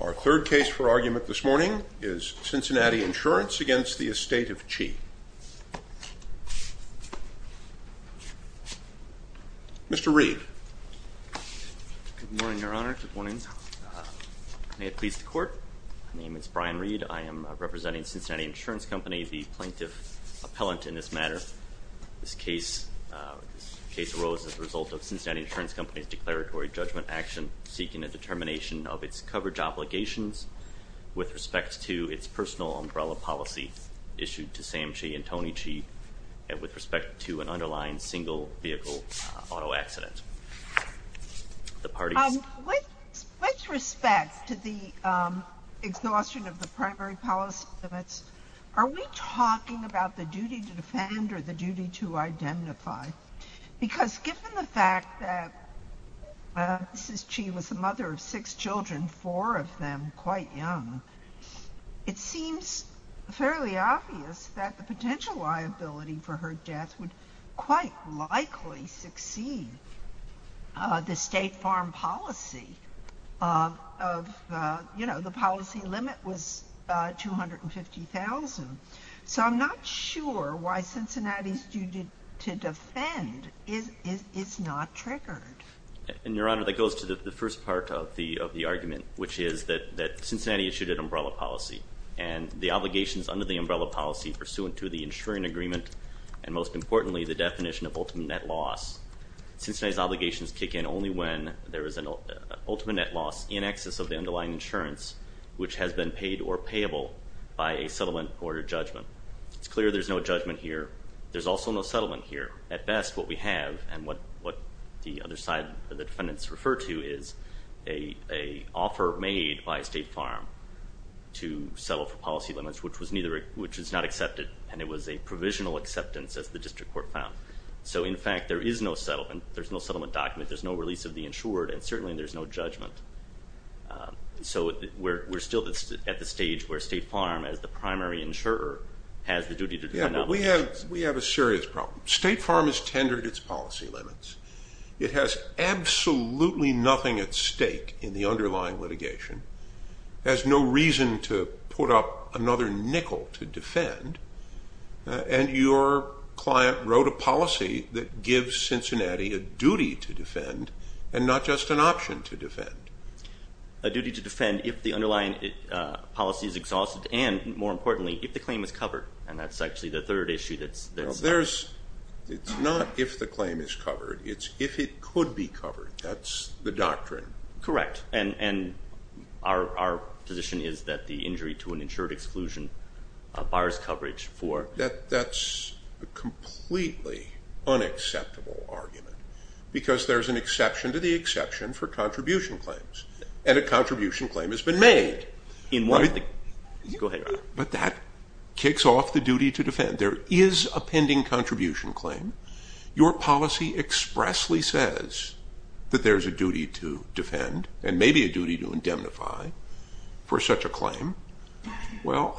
Our third case for argument this morning is Cincinnati Insurance against the Estate of Chee. Mr. Reed. Good morning, your honor. Good morning. May it please the court. My name is Brian Reed. I am representing Cincinnati Insurance Company, the plaintiff appellant in this matter. This case arose as a result of Cincinnati Insurance Company's declaratory judgment action seeking a determination of its coverage obligations with respect to its personal umbrella policy issued to Sam Chee and Toni Chee and with respect to an underlying single vehicle auto accident. With respect to the exhaustion of the primary policy limits, are we talking about the duty to defend or the duty to identify? Because given the fact that Mrs. Chee was a mother of six children, four of them quite young, it seems fairly obvious that the potential liability for her death would quite likely succeed the state farm policy of, you know, the policy limit was $250,000. So I'm not sure why Cincinnati's duty to defend is not triggered. And your honor, that goes to the first part of the argument, which is that Cincinnati issued an umbrella policy and the obligations under the umbrella policy pursuant to the insuring agreement and most importantly the definition of ultimate net loss. Cincinnati's obligations kick in only when there is an ultimate net loss in excess of the underlying insurance which has been paid or payable by a settlement or a judgment. It's clear there's no judgment here. There's also no settlement here. At best what we have and what the other side of the defendants refer to is a offer made by a state farm to settle for policy limits which was neither, which is not accepted and it was a provisional acceptance as the district court found. So in fact there is no settlement. There's no settlement document. There's no release of the insured and certainly there's no judgment. So we're still at the stage where state farm as the primary insurer has the duty to defend obligations. Yeah, but we have a serious problem. State farm has tendered its policy limits. It has absolutely nothing at stake in the underlying litigation, has no reason to put up another nickel to defend and your client wrote a policy that gives Cincinnati a duty to defend and not just an option to defend. A duty to defend if the underlying policy is exhausted and more importantly if the claim is covered and that's actually the third issue. It's not if the claim is covered. It's if it could be covered. That's the doctrine. Correct. And our position is that the injury to an insured exclusion bars coverage for. That's a completely unacceptable argument because there's an exception to the exception for contribution claims and a contribution claim has been made. Right, but that kicks off the duty to defend. There is a pending contribution claim. Your policy expressly says that there's a duty to defend and maybe a duty to indemnify for such a claim. Well,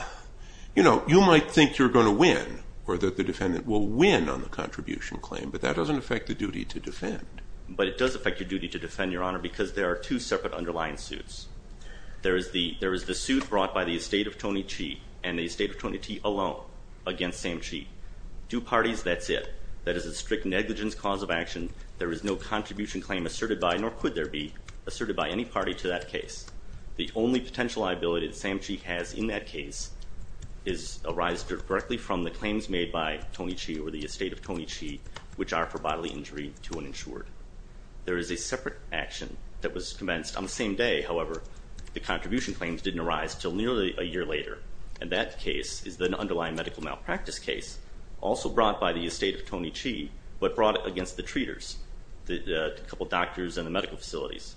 you know, you might think you're going to win or that the defendant will win on the contribution claim but that doesn't affect the duty to defend. But it does affect your duty to defend, your honor, because there are two separate underlying suits. There is the suit brought by the estate of Tony Chee and the estate of Tony Tee alone against Sam Chee. Two parties, that's it. That is a strict negligence cause of action. There is no contribution claim asserted by nor could there be asserted by any party to that case. The only potential liability Sam Chee has in that case is arises directly from the claims made by Tony Chee or the estate of Tony Chee which are for bodily injury to an insured. There is a separate action that was commenced on the same day, however, the contribution claims didn't arise till nearly a year later and that case is the underlying medical malpractice case also brought by the estate of Tony Chee but brought against the treaters, the couple doctors and the medical facilities.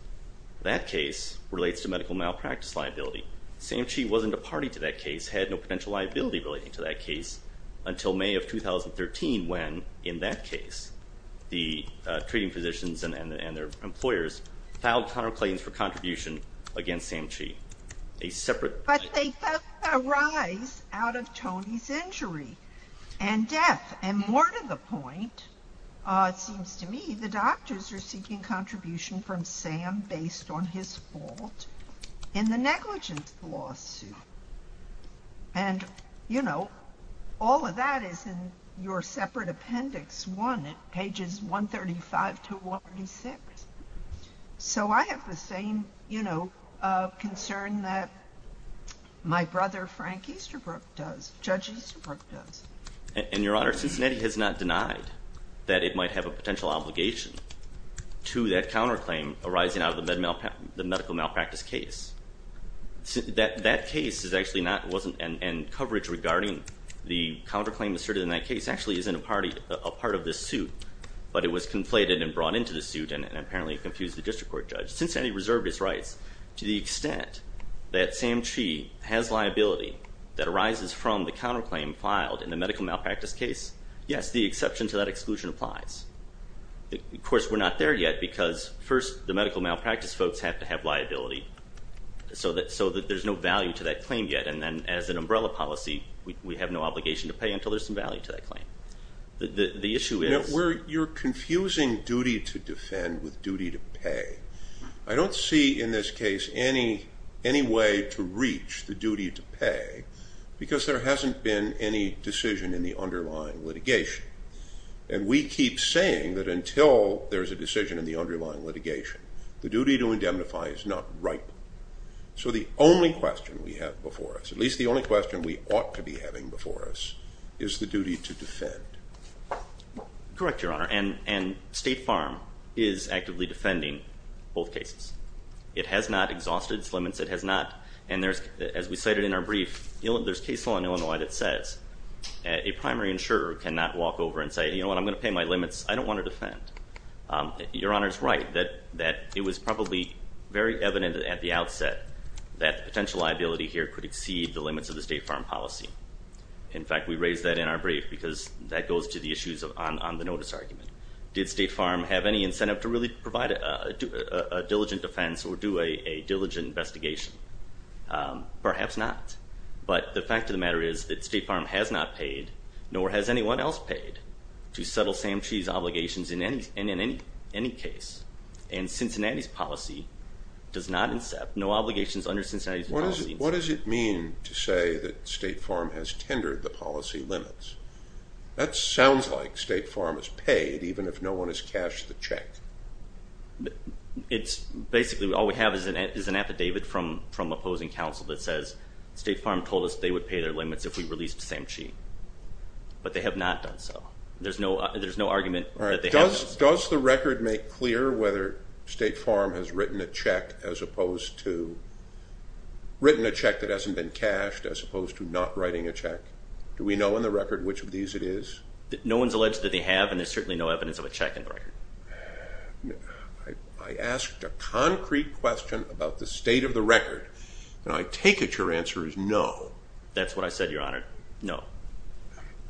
That case relates to medical malpractice liability. Sam Chee wasn't a party to that case, had no potential liability relating to that case until May of 2013 when, in that case, the treating physicians and their employers filed counterclaims for contribution against Sam Chee. But they both arise out of Tony's injury and death and more to the point, it seems to me the doctors are seeking contribution from Sam based on his fault in the negligence lawsuit. And, you know, all of that is in your separate appendix one at pages 135 to 136. So I have the same, you know, concern that my brother, Frank Easterbrook does, Judge Easterbrook does. And your honor, Cincinnati has not denied that it might have a potential obligation to that counterclaim arising out of the medical malpractice case. That case is actually not, wasn't, and coverage regarding the counterclaim asserted in that case actually is in a party, a part of this suit, but it was conflated and brought into the suit and apparently confused the district court judge. Cincinnati reserved its rights. To the extent that Sam Chee has liability that arises from the counterclaim filed in the medical malpractice case, yes, the exception to that exclusion applies. Of course, we're not there yet because first the medical malpractice folks have to have liability so that there's no value to that claim yet. And then as an umbrella policy, we have no obligation to pay until there's some value to that claim. The issue is... You're confusing duty to defend with duty to pay. I don't see in this case any way to reach the duty to pay because there hasn't been any decision in the underlying litigation. And we keep saying that until there's a decision in the underlying litigation, the duty to indemnify is not ripe. So the only question we have before us, at least the only question we ought to be having before us, is the duty to defend. Correct, your honor, and State Farm is actively defending both cases. It has not exhausted its limits, it has not, and there's, as we cited in our brief, there's case law in Illinois that says a primary insurer cannot walk over and say, you know what, I'm going to pay my limits. I don't want to defend. Your honor's right that it was probably very evident at the outset that the potential liability here could exceed the limits of the State Farm policy. In fact, we raised that in our brief because that goes to the issues on the notice argument. Did State Farm have any incentive to really provide a diligent defense or do a diligent investigation? Perhaps not, but the fact of the matter is that State Farm has not paid, nor has anyone else paid, to settle Sam Chee's obligations in any and in any case. And Cincinnati's policy does not, no obligations under Cincinnati's policy. What does it mean to say that State Farm has tendered the policy limits? That sounds like State Farm has paid even if no one has cashed the check. It's basically, all we have is an affidavit from opposing counsel that says State Farm told us they would pay their limits if we released Sam Chee, but they have not done so. There's no argument that they have. Does the record make clear whether State Farm has written a check as opposed to written a check that hasn't been cashed, as opposed to not writing a check? Do we know in the record which of these it is? No one's alleged that they have, and there's certainly no evidence of a check in the record. I asked a concrete question about the state of the record, and I take it your answer is no. That's what I said, Your Honor, no.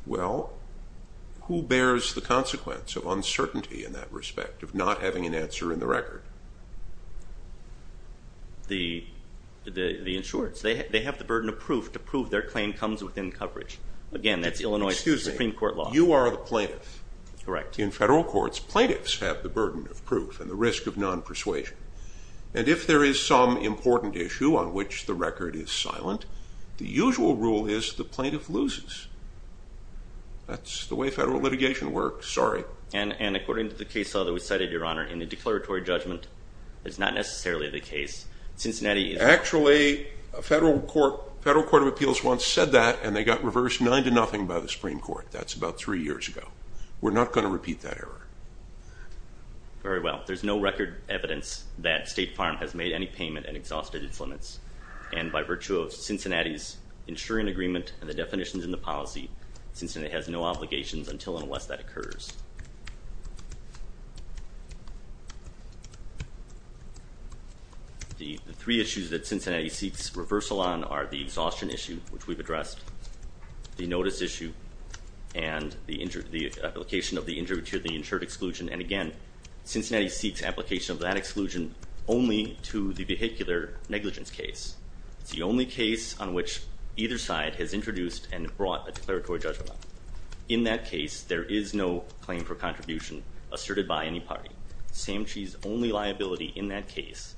Well, who bears the consequence of uncertainty in that respect, of not having an answer in the record? The insureds. They have the burden of proof to prove their claim comes within coverage. Again, that's Illinois Supreme Court law. You are the plaintiff. Correct. In federal courts, plaintiffs have the burden of proof and the risk of non-persuasion. And if there is some important issue on which the record is silent, the usual rule is the plaintiff loses. That's the way federal litigation works. Sorry. And according to the case law that we cited, Your Honor, in the declaratory judgment, it's not necessarily the case. Cincinnati is... Actually, a federal court of appeals once said that, and they got reversed nine to nothing by the Supreme Court. That's about three years ago. We're not going to repeat that error. Very well. There's no record evidence that State Farm has made any payment and exhausted its policy. Cincinnati has no obligations until and unless that occurs. The three issues that Cincinnati seeks reversal on are the exhaustion issue, which we've addressed, the notice issue, and the application of the insured exclusion. And again, Cincinnati seeks application of that exclusion only to the vehicular negligence case. It's the declaratory judgment. In that case, there is no claim for contribution asserted by any party. Sam Chee's only liability in that case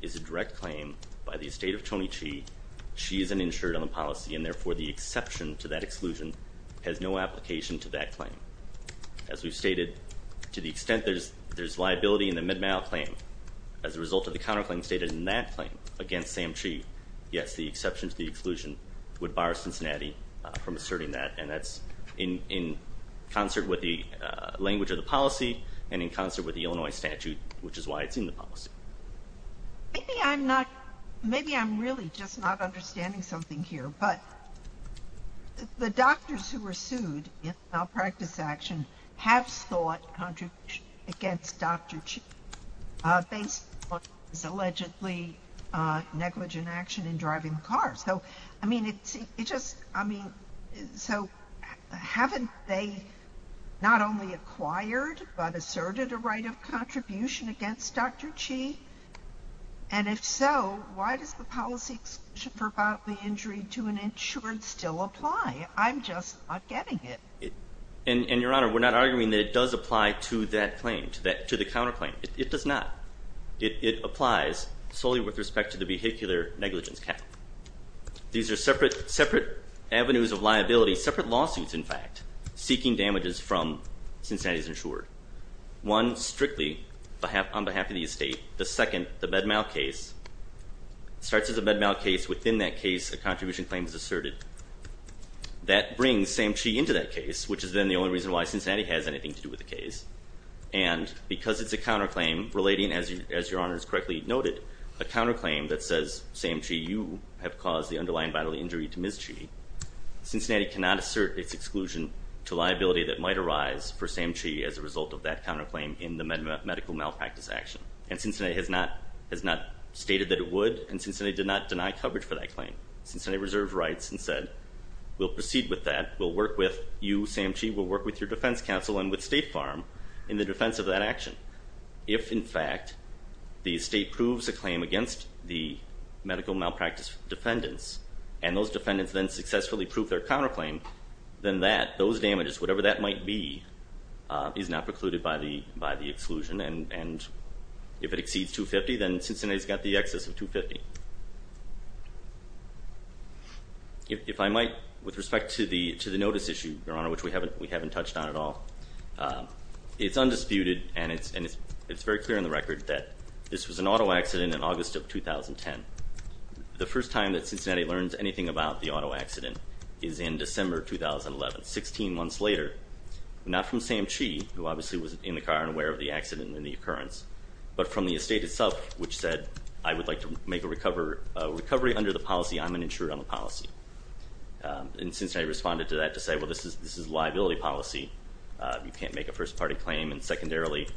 is a direct claim by the estate of Tony Chee. Chee is an insured on the policy, and therefore, the exception to that exclusion has no application to that claim. As we've stated, to the extent there's liability in the mid-mail claim, as a result of the counterclaim stated in that claim against Sam Chee, yes, the exception to the exclusion would bar Cincinnati from asserting that. And that's in concert with the language of the policy and in concert with the Illinois statute, which is why it's in the policy. Maybe I'm not, maybe I'm really just not understanding something here, but the doctors who were sued in malpractice action have sought contribution against Dr. Chee based on his allegedly negligent action in driving cars. So, I mean, it's, it just, I mean, so haven't they not only acquired but asserted a right of contribution against Dr. Chee? And if so, why does the policy exclusion for bodily injury to an insured still apply? I'm just not getting it. And, Your Honor, we're not arguing that it does apply to that claim, to that, to the counterclaim. It does not. It applies solely with respect to the vehicular negligence cap. These are separate avenues of liability, separate lawsuits, in fact, seeking damages from Cincinnati's insured. One, strictly on behalf of the estate. The second, the mid-mail case, starts as a mid-mail case. Within that case, a contribution claim is asserted. That brings Sam Chee into that case, which is then the only reason why Cincinnati has anything to do with the case. And because it's a counterclaim relating, as Your Honor has correctly noted, a counterclaim that says, Sam Chee, you have caused the underlying bodily injury to Ms. Chee, Cincinnati cannot assert its exclusion to liability that might arise for Sam Chee as a result of that counterclaim in the medical malpractice action. And Cincinnati has not, has not stated that it would, and Cincinnati did not deny coverage for that claim. Cincinnati reserved rights and said, we'll proceed with that. We'll work with you, Sam Chee, we'll work with your defense counsel and with State Farm in the defense of that action. If, in fact, the estate proves a claim against the medical malpractice defendants, and those defendants then successfully prove their counterclaim, then that, those damages, whatever that might be, is not precluded by the exclusion. And if it exceeds 250, then Cincinnati's got the excess of 250. If I might, with respect to the, to the notice issue, Your Honor, which we haven't, we haven't touched on at all. It's undisputed, and it's, and it's, it's very clear in the record that this was an auto accident in August of 2010. The first time that Cincinnati learns anything about the auto accident is in December 2011, 16 months later. Not from Sam Chee, who obviously was in the car and aware of the accident and the occurrence, but from the estate itself, which said, I would like to make a recover, a recovery under the policy. I'm an insured on the policy. And Cincinnati responded to that to say, well, this is, this is liability policy. You can't make a first party claim. And secondarily,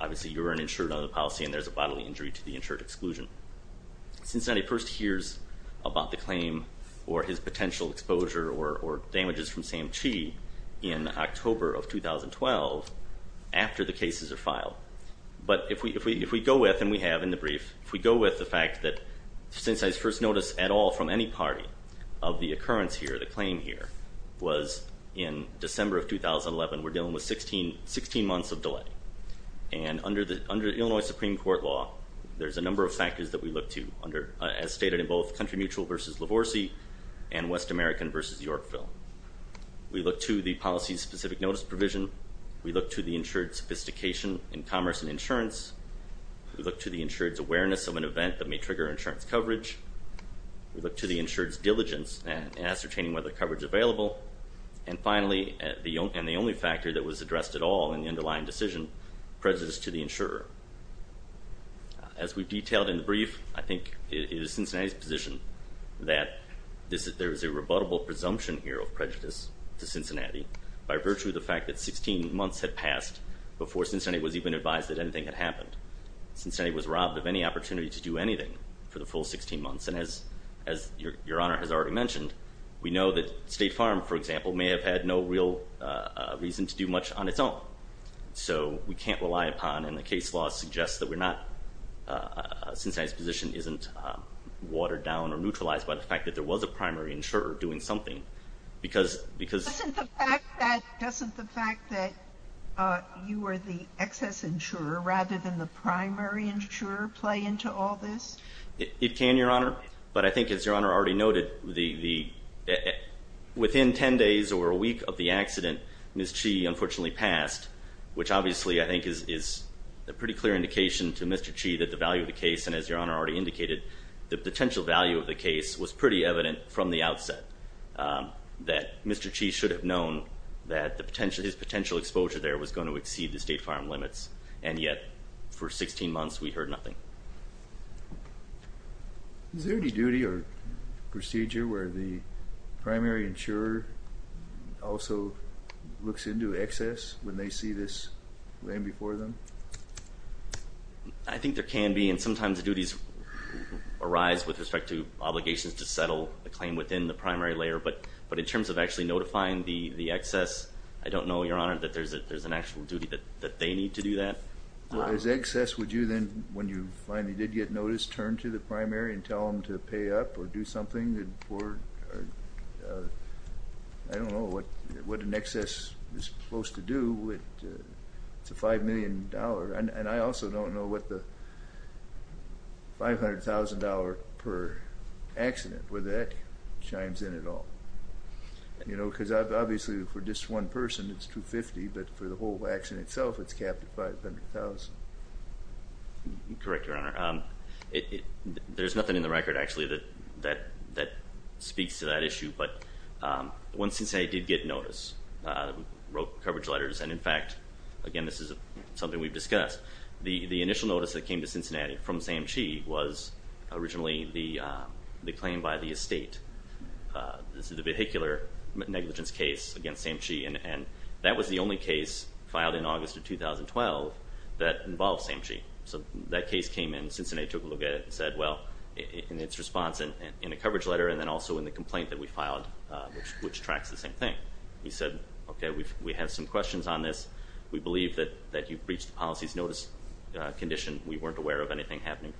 obviously you're an insured on the policy and there's a bodily injury to the insured exclusion. Cincinnati first hears about the claim or his potential exposure or, or damages from Sam Chee in October of 2012, after the cases are filed. But if we, if we go with, and we have in the brief, if we go with the fact that Cincinnati's first notice at all from any party of the occurrence here, the claim here, was in December of 2011, we're dealing with 16, 16 months of delay. And under the, under Illinois Supreme Court law, there's a number of factors that we look to under, as stated in both Country Mutual versus Lavorsi and West American versus Yorkville. We look to the policy specific notice provision. We look to the insured sophistication in commerce and insurance. We look to the insured's awareness of an event that may trigger insurance coverage. We look to the insured's diligence and ascertaining whether coverage available. And finally, the only, and the only factor that was addressed at all in the underlying decision, prejudice to the insurer. As we've detailed in the brief, I think it is Cincinnati's position that this, there is a rebuttable presumption here of prejudice to Cincinnati by virtue of the fact that 16 months had passed before Cincinnati was even advised that anything had happened. Cincinnati was robbed of any opportunity to do anything for the full 16 months. And as, as Your Honor has already mentioned, we know that State Farm, for example, may have had no real reason to do much on its own. So we can't rely upon, and the case law suggests that we're not, Cincinnati's position isn't watered down or neutralized by the fact that there was a primary insurer doing something. Because, because... Doesn't the fact that, doesn't the fact that you were the excess insurer rather than the primary insurer play into all this? It can, Your Honor. But I think as Your Honor already noted, the, the, within 10 days or a week of the accident, Ms. Chee unfortunately passed, which obviously I think is, is a pretty clear indication to Mr. Chee that the value of the case, and as Your Honor already indicated, the potential value of the case was pretty evident from the outset that Mr. Chee should have known that the potential, his potential exposure there was going to exceed the State Farm limits, and yet for 16 months we heard nothing. Is there any duty or procedure where the primary insurer also looks into excess when they see this land before them? I think there can be, and sometimes duties arise with respect to obligations to settle the claim within the primary layer, but, but in terms of actually notifying the, the excess, I don't know, Your Honor, that there's a, there's an actual duty that, that they need to do that. Well as excess, would you then, when you finally did get notice, turn to the primary and tell them to pay up or do something, or, I don't know what, what an excess is supposed to do with, it's a five million dollar, and I also don't know what the five hundred thousand dollar per accident, whether that chimes in at all, you know, because I've, obviously for just one person it's $250,000, but for the whole action itself it's capped at $500,000. Correct, Your Honor. It, there's nothing in the record actually that, that, that speaks to that wrote coverage letters, and in fact, again, this is something we've discussed. The, the initial notice that came to Cincinnati from Sam Chee was originally the, the claim by the estate. This is a vehicular negligence case against Sam Chee, and that was the only case filed in August of 2012 that involved Sam Chee. So that case came in, Cincinnati took a look at it and said, well, in its response, in a coverage letter, and then also in the complaint that we filed, which tracks the same thing. We said, okay, we've, we have some questions on this. We believe that, that you've breached the policy's notice condition. We weren't aware of anything happening.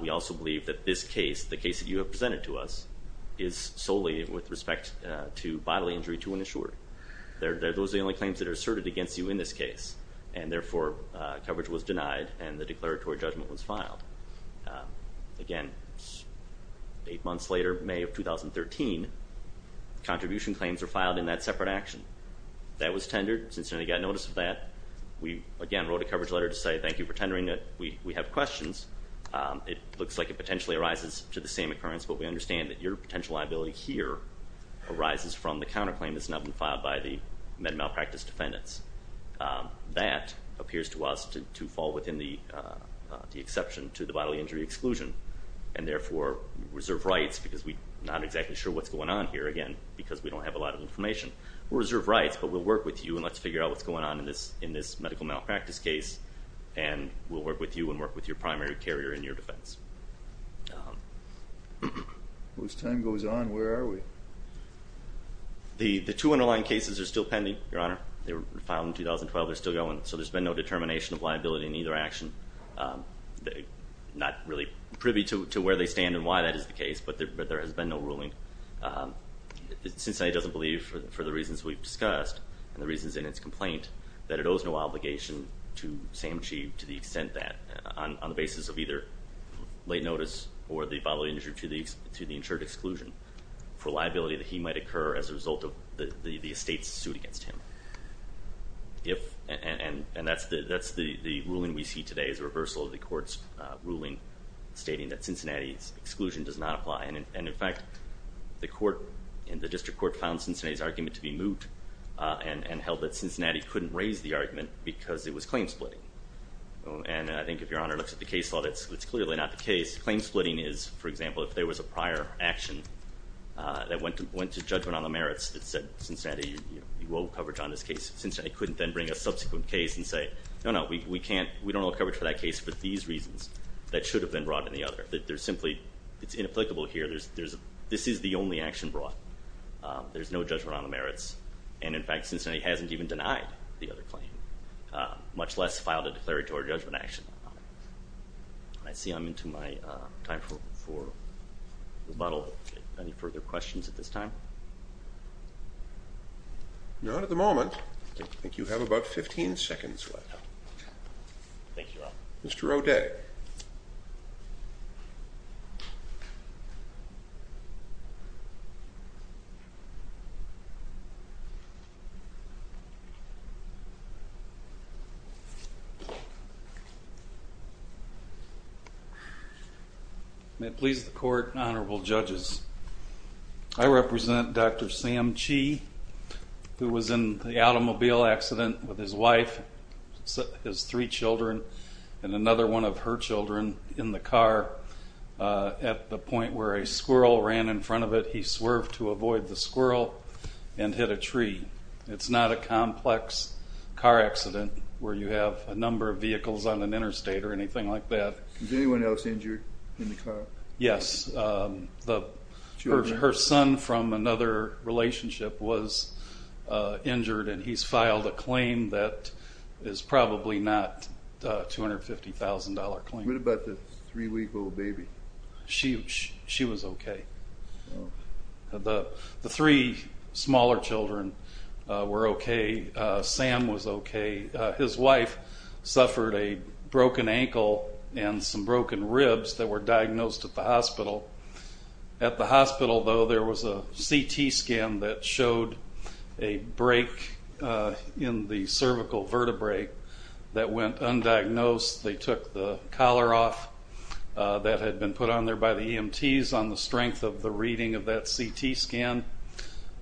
We also believe that this case, the case that you have presented to us, is solely with respect to bodily injury to an insured. They're, those are the only claims that are asserted against you in this case, and therefore coverage was denied and the declaratory judgment was filed. Again, eight months later, May of 2013, contribution claims were filed in that separate action. That was tendered. Cincinnati got notice of that. We, again, wrote a coverage letter to say, thank you for tendering it. We, we have questions. It looks like it potentially arises to the same occurrence, but we understand that your potential liability here arises from the counterclaim that's not been filed by the med malpractice defendants. That appears to us to, fall within the, the exception to the bodily injury exclusion, and therefore reserve rights, because we're not exactly sure what's going on here, again, because we don't have a lot of information. We'll reserve rights, but we'll work with you and let's figure out what's going on in this, in this medical malpractice case, and we'll work with you and work with your primary carrier in your defense. As time goes on, where are we? The, the two underlying cases are still pending, your honor. They were filed in 2012. They're still going, so there's been no determination of liability in either action. Not really privy to where they stand and why that is the case, but there has been no ruling. Cincinnati doesn't believe, for the reasons we've discussed, and the reasons in its complaint, that it owes no obligation to Sam Cheeve to the extent that, on the basis of either late notice or the bodily injury to the, to the insured exclusion, for liability that he might occur as a result of the, the estate's suit against him. If, and, and, and that's the, that's the, the ruling we see today is a reversal of the court's ruling stating that Cincinnati's exclusion does not apply. And, and in fact, the court and the district court found Cincinnati's argument to be moot and, and held that Cincinnati couldn't raise the argument because it was claim splitting. And I think if your honor looks at the case law, that's, that's clearly not the case. Claim splitting is, for example, if there was a prior action that went to, went to judgment on the merits that said, Cincinnati, you, you owe coverage on this case. Cincinnati couldn't then bring a subsequent case and say, no, no, we, we can't, we don't owe coverage for that case for these reasons that should have been brought in the other. That there's simply, it's inapplicable here. There's, there's, this is the only action brought. There's no judgment on the merits. And in fact, Cincinnati hasn't even denied the other claim, much less filed a declaratory judgment action on it. I see I'm into my time for, rebuttal. Any further questions at this time? Not at the moment. I think you have about 15 seconds left. Thank you, Your Honor. Mr. O'Day. May it please the court and honorable judges, I represent Dr. Sam Chee, who was in the automobile at the point where a squirrel ran in front of it. He swerved to avoid the squirrel and hit a tree. It's not a complex car accident where you have a number of vehicles on an interstate or anything like that. Was anyone else injured in the car? Yes. Her son from another relationship was injured and he's filed a claim that is probably not a $250,000 claim. What about the three-week-old baby? She, she was okay. The three smaller children were okay. Sam was okay. His wife suffered a broken ankle and some broken ribs that were diagnosed at the hospital. At the hospital, though, there was a CT scan that showed a break in the cervical vertebrae that went undiagnosed. They took the collar off that had been put on there by the EMTs on the strength of the reading of that CT scan.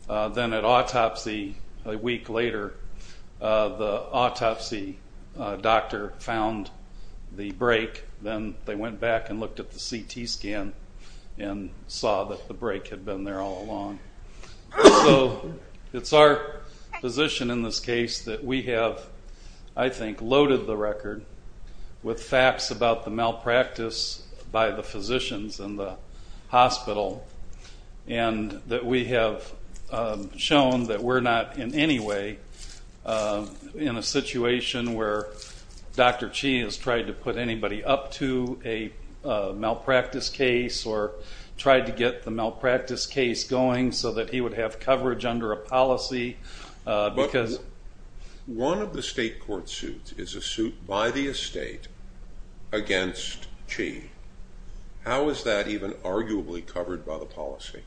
Then at autopsy, a week later, the autopsy doctor found the break. Then they went back and looked at the CT scan and saw that the break had been there all along. So it's our position in this case that we have, I think, loaded the record with facts about the malpractice by the physicians in the hospital and that we have shown that we're not in any way in a situation where Dr. Chi has tried to put anybody up to a malpractice case or tried to get the malpractice case going so that he would have coverage under a policy because... One of the state court suits is a suit by the estate against Chi. How is that even arguably covered by the policy?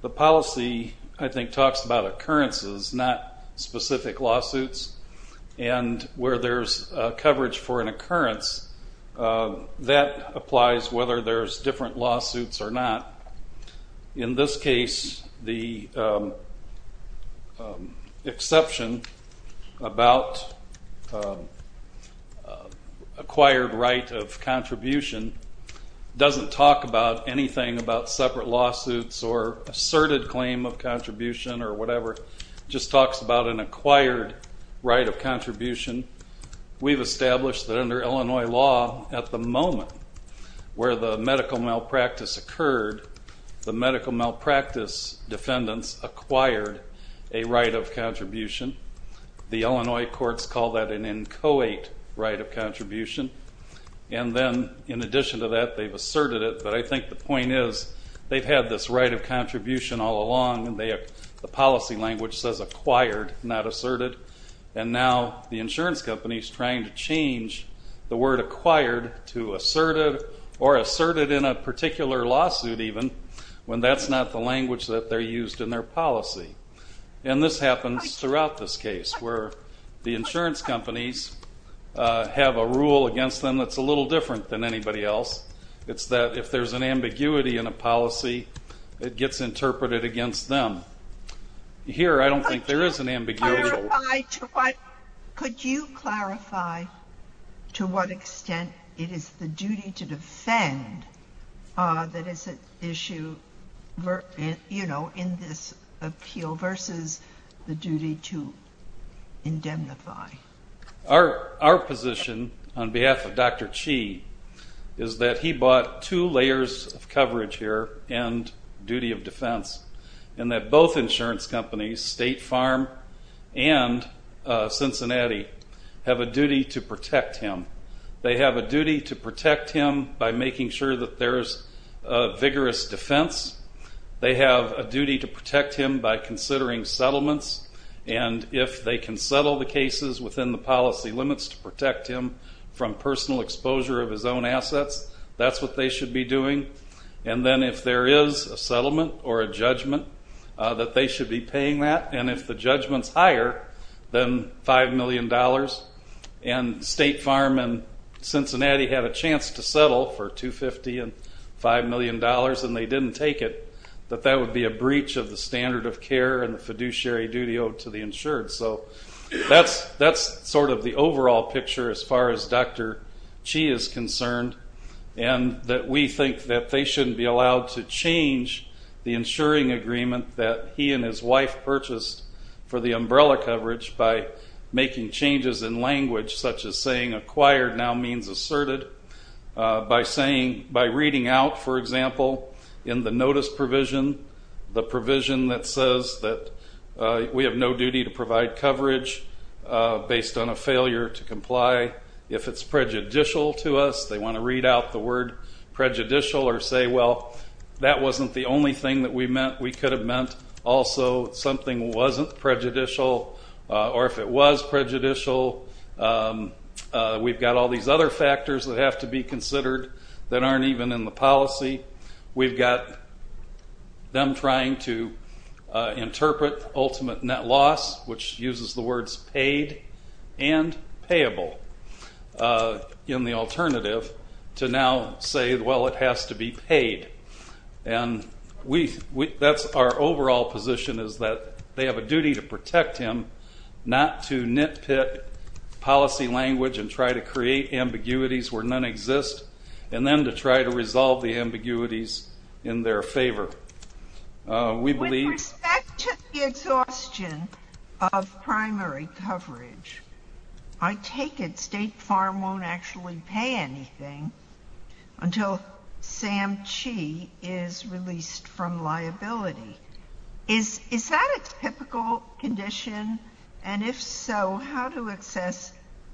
The policy, I think, talks about occurrences, not specific lawsuits, and where there's coverage for an occurrence, that applies whether there's different lawsuits or not. In this case, the exception about acquired right of contribution doesn't talk about anything about separate lawsuits or asserted claim of contribution or whatever, just talks about an acquired right of contribution. We've established that under Illinois law, at the moment where the medical malpractice occurred, the medical malpractice defendants acquired a right of contribution. The Illinois courts call that an inchoate right of contribution. And then, in addition to that, they've asserted it, but I think the point is they've had this right of contribution all along and the policy language says acquired, not asserted, and now the insurance company's trying to change the word acquired to even when that's not the language that they're used in their policy. And this happens throughout this case, where the insurance companies have a rule against them that's a little different than anybody else. It's that if there's an ambiguity in a policy, it gets interpreted against them. Here, I don't think there is an ambiguity. Could you clarify to what extent it is the duty to issue in this appeal versus the duty to indemnify? Our position, on behalf of Dr. Chee, is that he bought two layers of coverage here and duty of defense, and that both insurance companies, State Farm and Cincinnati, have a duty to protect him. They have a duty to protect him by making sure that there's a vigorous defense. They have a duty to protect him by considering settlements, and if they can settle the cases within the policy limits to protect him from personal exposure of his own assets, that's what they should be doing. And then, if there is a settlement or a judgment, that they should be paying that, and if the judgment's higher than $5 million, and State Farm and Cincinnati had a chance to settle for $250 and $5 million and they didn't take it, that that would be a breach of the standard of care and the fiduciary duty owed to the insured. So that's sort of the overall picture as far as Dr. Chee is concerned, and that we think that they shouldn't be allowed to change the insuring agreement that he and his making changes in language, such as saying acquired now means asserted, by saying, by reading out, for example, in the notice provision, the provision that says that we have no duty to provide coverage based on a failure to comply. If it's prejudicial to us, they want to read out the word prejudicial or say, well, that wasn't the only thing that we meant. We could have meant also something wasn't prejudicial, or if it was prejudicial, we've got all these other factors that have to be considered that aren't even in the policy. We've got them trying to interpret ultimate net loss, which uses the words paid and payable in the alternative, to now say, well, it has to be paid. And that's our overall position, is that they have a duty to protect him, not to nitpick policy language and try to create ambiguities where none exist, and then to try to resolve the ambiguities in their favor. We believe- With respect to the exhaustion of primary coverage, I take it State Farm won't actually pay anything until Sam Chee is released from liability. Is that a typical condition? And if so, how do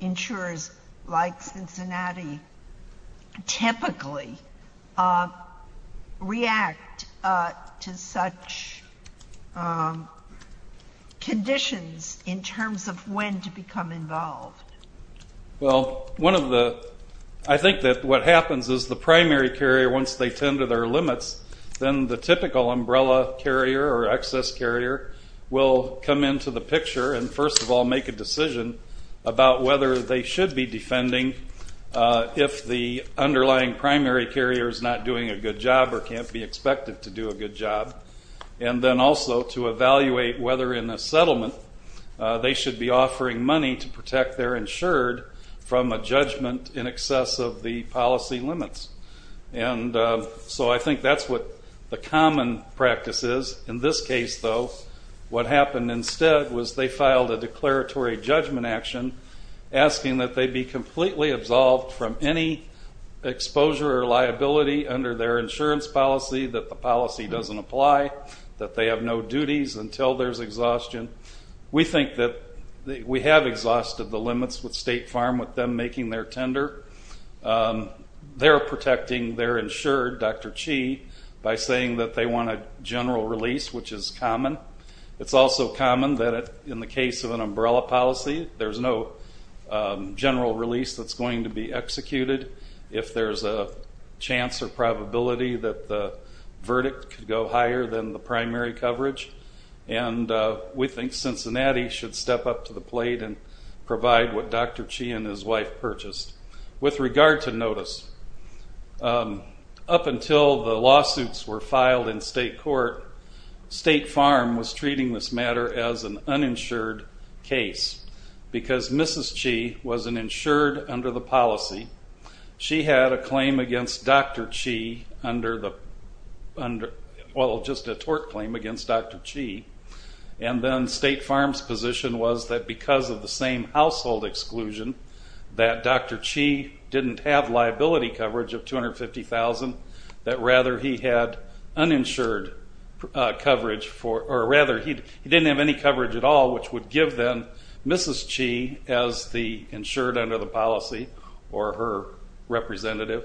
insurers like Cincinnati typically react to such conditions in terms of when to become involved? Well, I think that what happens is the primary carrier, once they tend to their limits, then the typical umbrella carrier or excess carrier will come into the picture and first of all make a decision about whether they should be defending if the underlying primary carrier is not doing a good job or can't be expected to do a good job, and then also to evaluate whether in a settlement they should be offering money to protect their insured from a judgment in excess of the policy limits. And so I think that's what the common practice is. In this case, though, what happened instead was they filed a declaratory judgment action asking that they be completely absolved from any exposure or liability under their insurance policy, that the policy doesn't apply, that they have no duties until there's exhaustion. We think that we have exhausted the limits with State Farm with them making their tender. They're protecting their insured, Dr. Chee, by saying that they want a general release, which is common. It's also common that in the case of an umbrella policy, there's no general release that's going to be executed if there's a chance or probability that the verdict could go higher than the primary coverage, and we think Cincinnati should step up to the plate and provide what Dr. Chee and his wife purchased. With regard to notice, up until the lawsuits were filed in State Court, State Farm was treating this matter as an uninsured case, because Mrs. Chee was an insured under the policy. She had a claim against Dr. Chee, well, just a tort claim against Dr. Chee, and then State Farm's position was that because of the same household exclusion, that Dr. Chee didn't have liability coverage of $250,000, that rather he had uninsured coverage, or rather he didn't have any coverage at all, which would give them Mrs. Chee as the insured under the policy, or her representative,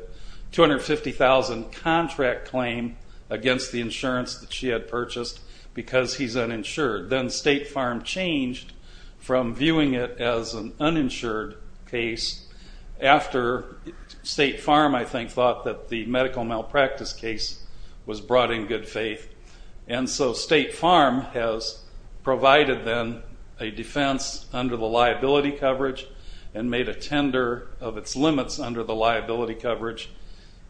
$250,000 contract claim against the insurance that she had purchased because he's uninsured. Then State Farm changed from viewing it as an uninsured case after State Farm, I think, thought that the medical malpractice case was brought in good faith, and so State Farm has provided them a defense under the liability coverage and made a tender of its limits under the liability coverage,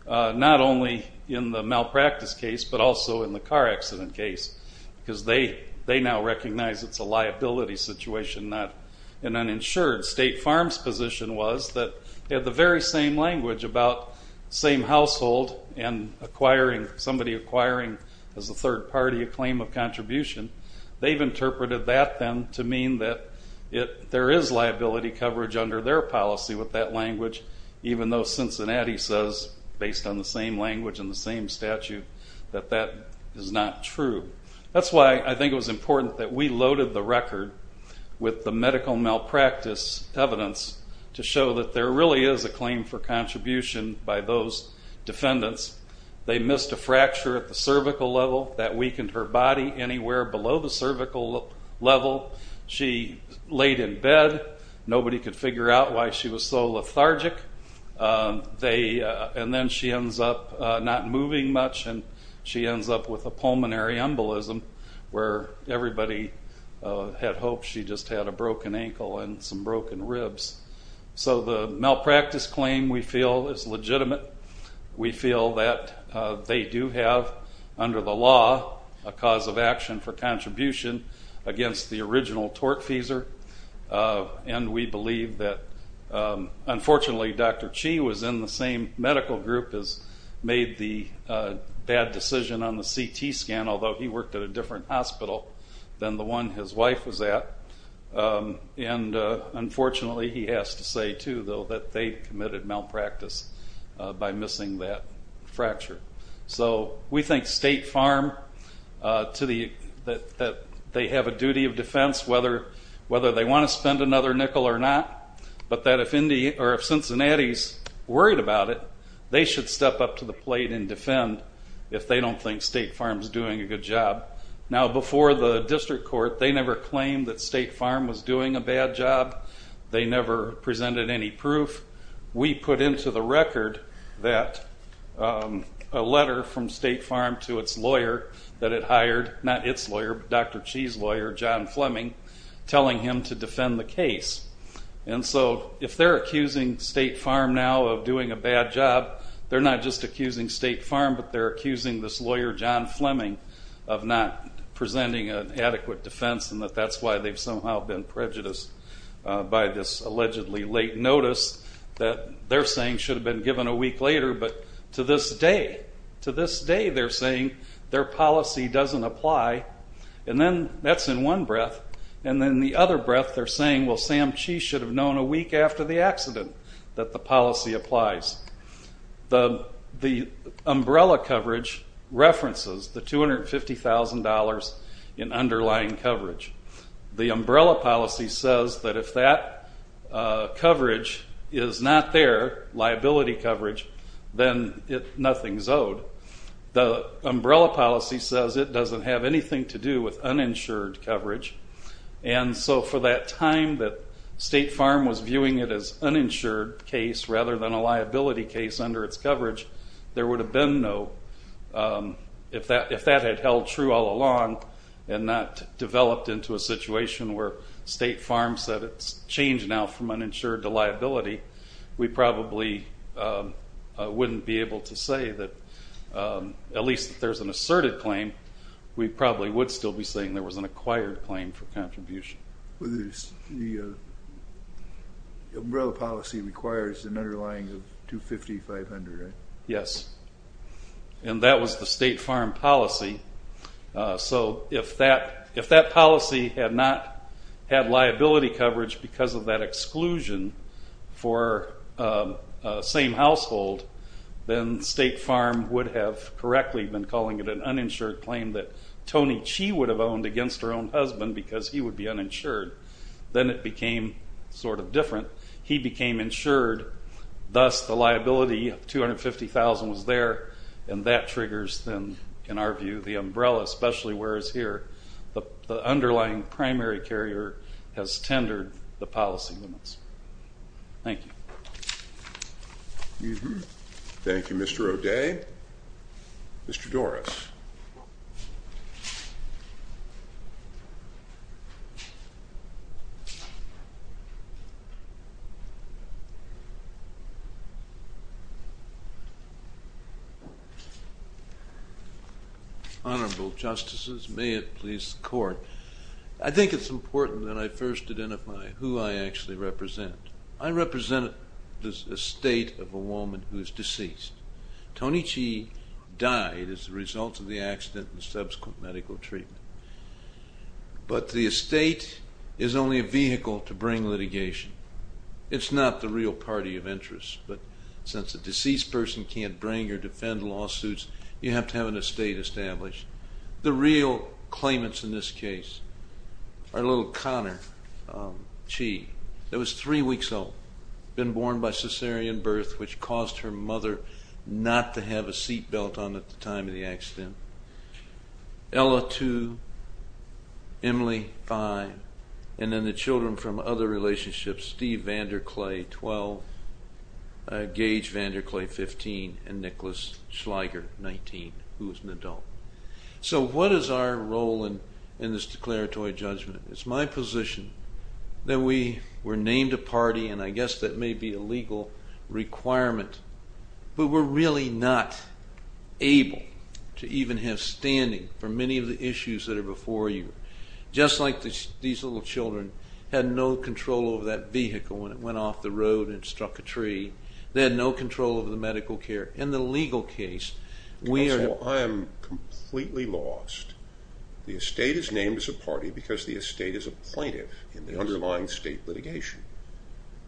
not only in the malpractice case, but also in the car accident case, because they now recognize it's a liability situation, not an uninsured. State Farm's position was that they had the very same language about same household and acquiring, somebody acquiring as a third party a claim of contribution. They've interpreted that then to mean that there is liability coverage under their policy with that language, even though Cincinnati says, based on the same language and the same statute, that that is not true. That's why I think it was important that we loaded the record with the medical malpractice evidence to show that there really is a claim for contribution by those defendants. They missed a fracture at the cervical level that weakened her body anywhere below the cervical level. She laid in bed. Nobody could figure out why she was so lethargic, and then she ends up not moving much, and she ends up with a pulmonary embolism where everybody had hoped she just had a broken ankle and some broken ribs. So the malpractice claim, we feel, is legitimate. We feel that they do have, under the law, a cause of action for contribution against the original tortfeasor, and we believe that, unfortunately, Dr. Chi was in the same medical group as made the bad decision on the CT scan, although he worked at a different hospital than the one his wife was at, and, unfortunately, he has to say, too, though, that they committed malpractice by missing that fracture. So we think State Farm, that they have a duty of defense whether they want to spend another nickel or not, but that if Cincinnati's worried about it, they should step up to the plate and defend if they don't think State Farm's doing a good job. Now, before the district court, they never claimed that State Farm was doing a bad job. They never presented any proof. We put into the record that a letter from State Farm to its lawyer that it hired, not its lawyer, but Dr. Chi's lawyer, John Fleming, telling him to defend the case, and so if they're accusing State Farm now of doing a bad job, they're not just accusing State Farm of not presenting an adequate defense and that that's why they've somehow been prejudiced by this allegedly late notice that they're saying should have been given a week later, but to this day, to this day, they're saying their policy doesn't apply, and then that's in one breath, and then in the other breath, they're saying, well, Sam Chi should have known a week after the accident that the policy applies. The umbrella coverage references the $250,000 in underlying coverage. The umbrella policy says that if that coverage is not there, liability coverage, then nothing's owed. The umbrella policy says it doesn't have anything to do with it as uninsured case rather than a liability case under its coverage. There would have been no, if that had held true all along and not developed into a situation where State Farm said it's changed now from uninsured to liability, we probably wouldn't be able to say that, at least if there's an asserted claim, we probably would still be saying there was an acquired claim for contribution. The umbrella policy requires an underlying of $250,000, $500,000, right? Yes, and that was the State Farm policy, so if that policy had not had liability coverage because of that exclusion for the same household, then State Farm would have correctly been calling it an uninsured claim that then it became sort of different. He became insured, thus the liability of $250,000 was there, and that triggers then, in our view, the umbrella, especially whereas here, the underlying primary carrier has tendered the policy limits. Thank you. Thank you, Mr. O'Day. Mr. Doris. Honorable Justices, may it please the Court. I think it's important that I first identify who I actually represent. I represent the estate of a woman who is deceased. Toni Chee died as a result of the accident and subsequent medical treatment, but the estate is only a vehicle to bring litigation. It's not the real party of interest, but since a deceased person can't bring or defend lawsuits, you have to have an estate established. The real claimants in this case are little Connor Chee that was three weeks old, been born by cesarean birth, which caused her mother not to have a seat belt on at the time of the accident, Ella, two, Emily, five, and then the children from other relationships, Steve Vanderclay, 12, Gage Vanderclay, 15, and Nicholas Schlieger, 19, who was an adult. So what is our role in this declaratory judgment? It's my position that we were named a party, and I guess that may be a legal requirement, but we're really not able to even have standing for many of the issues that are before you. Just like these little children had no control over that vehicle when it went off the road and struck a tree, they had no control over the medical care. In the legal case, we are... the estate is named as a party because the estate is a plaintiff in the underlying state litigation.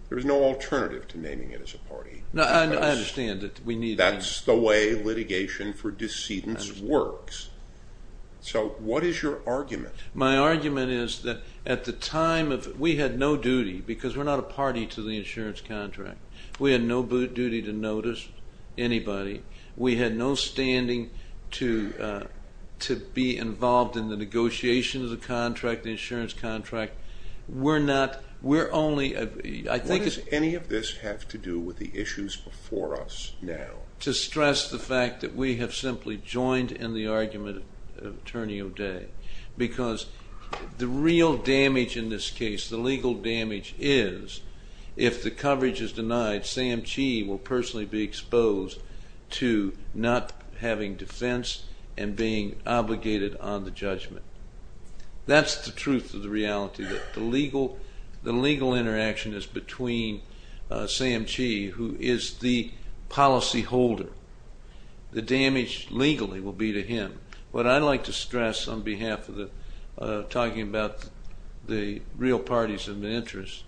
There is no alternative to naming it as a party. No, I understand that we need... That's the way litigation for decedents works. So what is your argument? My argument is that at the time of... we had no duty, because we're not a party to the insurance contract, we had no duty to notice anybody, we had no standing to be involved in the negotiation of the contract, the insurance contract. We're not... we're only... I think... What does any of this have to do with the issues before us now? To stress the fact that we have simply joined in the argument of Attorney O'Day, because the real damage in this case, the legal damage is, if the coverage is denied, Sam Chee will personally be exposed to not having defense and being obligated on the judgment. That's the truth of the reality, that the legal... the legal interaction is between Sam Chee, who is the policy holder. The damage legally will be to him. What I'd like to stress on behalf of the... talking about the real parties of the interest,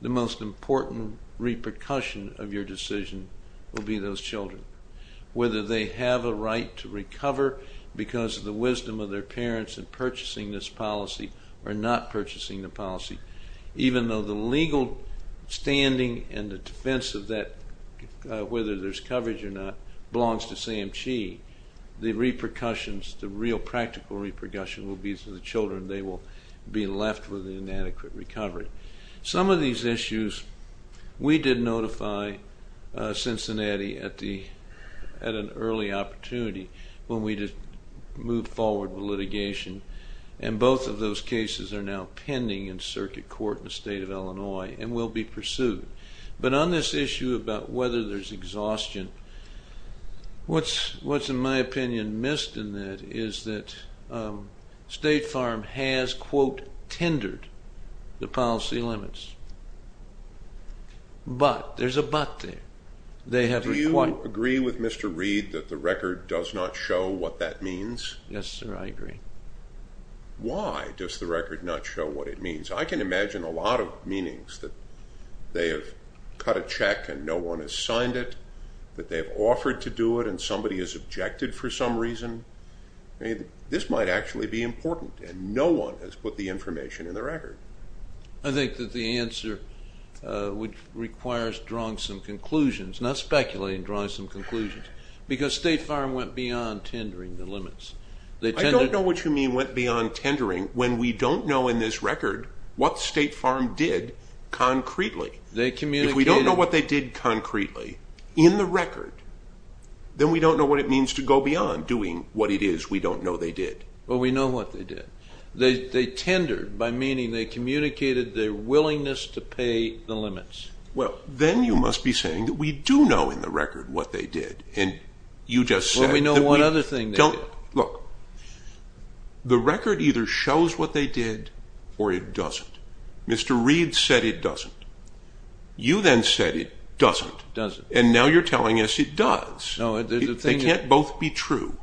the most important repercussion of your decision will be those children. Whether they have a right to recover because of the wisdom of their parents in purchasing this policy or not purchasing the policy, even though the legal standing and the defense of that, whether there's coverage or not, belongs to Sam Chee, the repercussions, the real practical repercussion will be to the children. They will be left with an inadequate recovery. Some of these issues, we did notify Cincinnati at the... at an early opportunity when we just moved forward with litigation, and both of those cases are now pending in circuit court in the state of Illinois and will be pursued. But on this issue about whether there's exhaustion, what's in my opinion missed in that is that State Farm has, quote, tendered the policy limits. But, there's a but there. They have required... Do you agree with Mr. Reed that the record does not show what that means? Yes, sir, I agree. Why does the record not show what it means? I can imagine a lot of meanings that they have cut a check and no one has signed it, that they've offered to do it and somebody has objected for some reason. I mean, this might actually be important and no one has put the information in the record. I think that the answer requires drawing some conclusions, not speculating, drawing some conclusions, because State Farm went beyond tendering the limits. I don't know what you mean went beyond tendering when we don't know in this record what State Farm did concretely. They communicated... If we don't know what they did concretely in the record, then we don't know what it means to go beyond doing what it is we don't know they did. Well, we know what they did. They tendered, by meaning they communicated their willingness to pay the limits. Well, then you must be saying that we do know in the record what they did and you just said... Well, we know one other thing they did. Look, the record either shows what they did or it doesn't. Mr. Reed said it doesn't. You then said it doesn't. It doesn't. And now you're telling us it does. They can't both be true.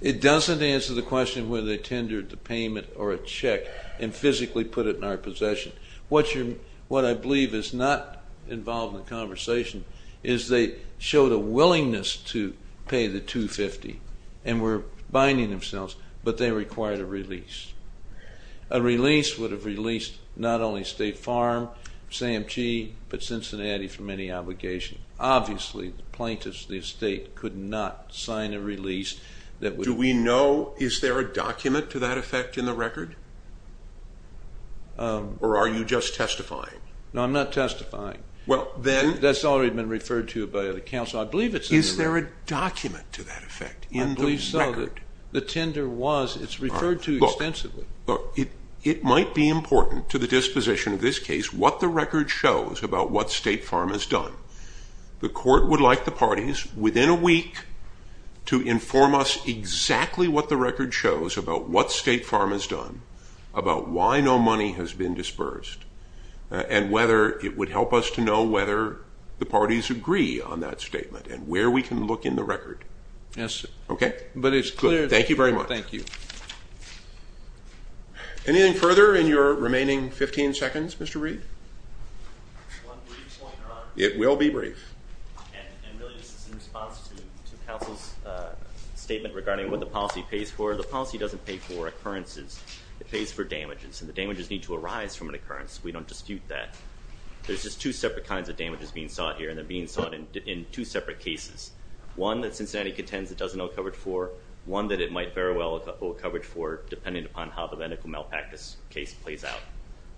It doesn't answer the question whether they tendered the payment or a check and physically put it in our possession. What I believe is not involved in the conversation is they showed a willingness to pay the $250,000 and were binding themselves, but they required a release. A release would have released not only State Farm, SAMHSA, but Cincinnati from any obligation. Obviously, plaintiffs of the estate could not sign a release that would... Do we know... Is there a document to that effect in the record? Or are you just testifying? No, I'm not testifying. Well, then... That's already been referred to by the counsel. I believe it's in the record. Is there a document to that effect in the record? I believe so. The tender was... It's referred to extensively. Look, it might be important to the disposition of this case what the record shows about what The court would like the parties within a week to inform us exactly what the record shows about what State Farm has done, about why no money has been dispersed, and whether it would help us to know whether the parties agree on that statement and where we can look in the record. Yes. Okay? But it's clear... Thank you very much. Thank you. Anything further in your remaining 15 seconds, Mr. Reed? It will be brief. And really, this is in response to counsel's statement regarding what the policy pays for The policy doesn't pay for occurrences. It pays for damages. And the damages need to arise from an occurrence. We don't dispute that. There's just two separate kinds of damages being sought here. And they're being sought in two separate cases. One that Cincinnati contends it doesn't owe coverage for. One that it might very well owe coverage for, depending upon how the medical malpractice case plays out.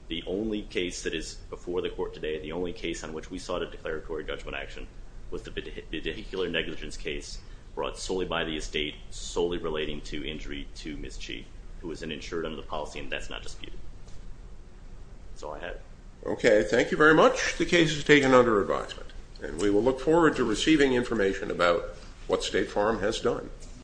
The only case that is before the court today, the only case on which we sought a declaratory judgment action, was the vehicular negligence case brought solely by the estate, solely relating to injury to Ms. Chee, who was an insured under the policy. And that's not disputed. That's all I have. Okay. Thank you very much. The case is taken under advisement. And we will look forward to receiving information about what State Farm has done.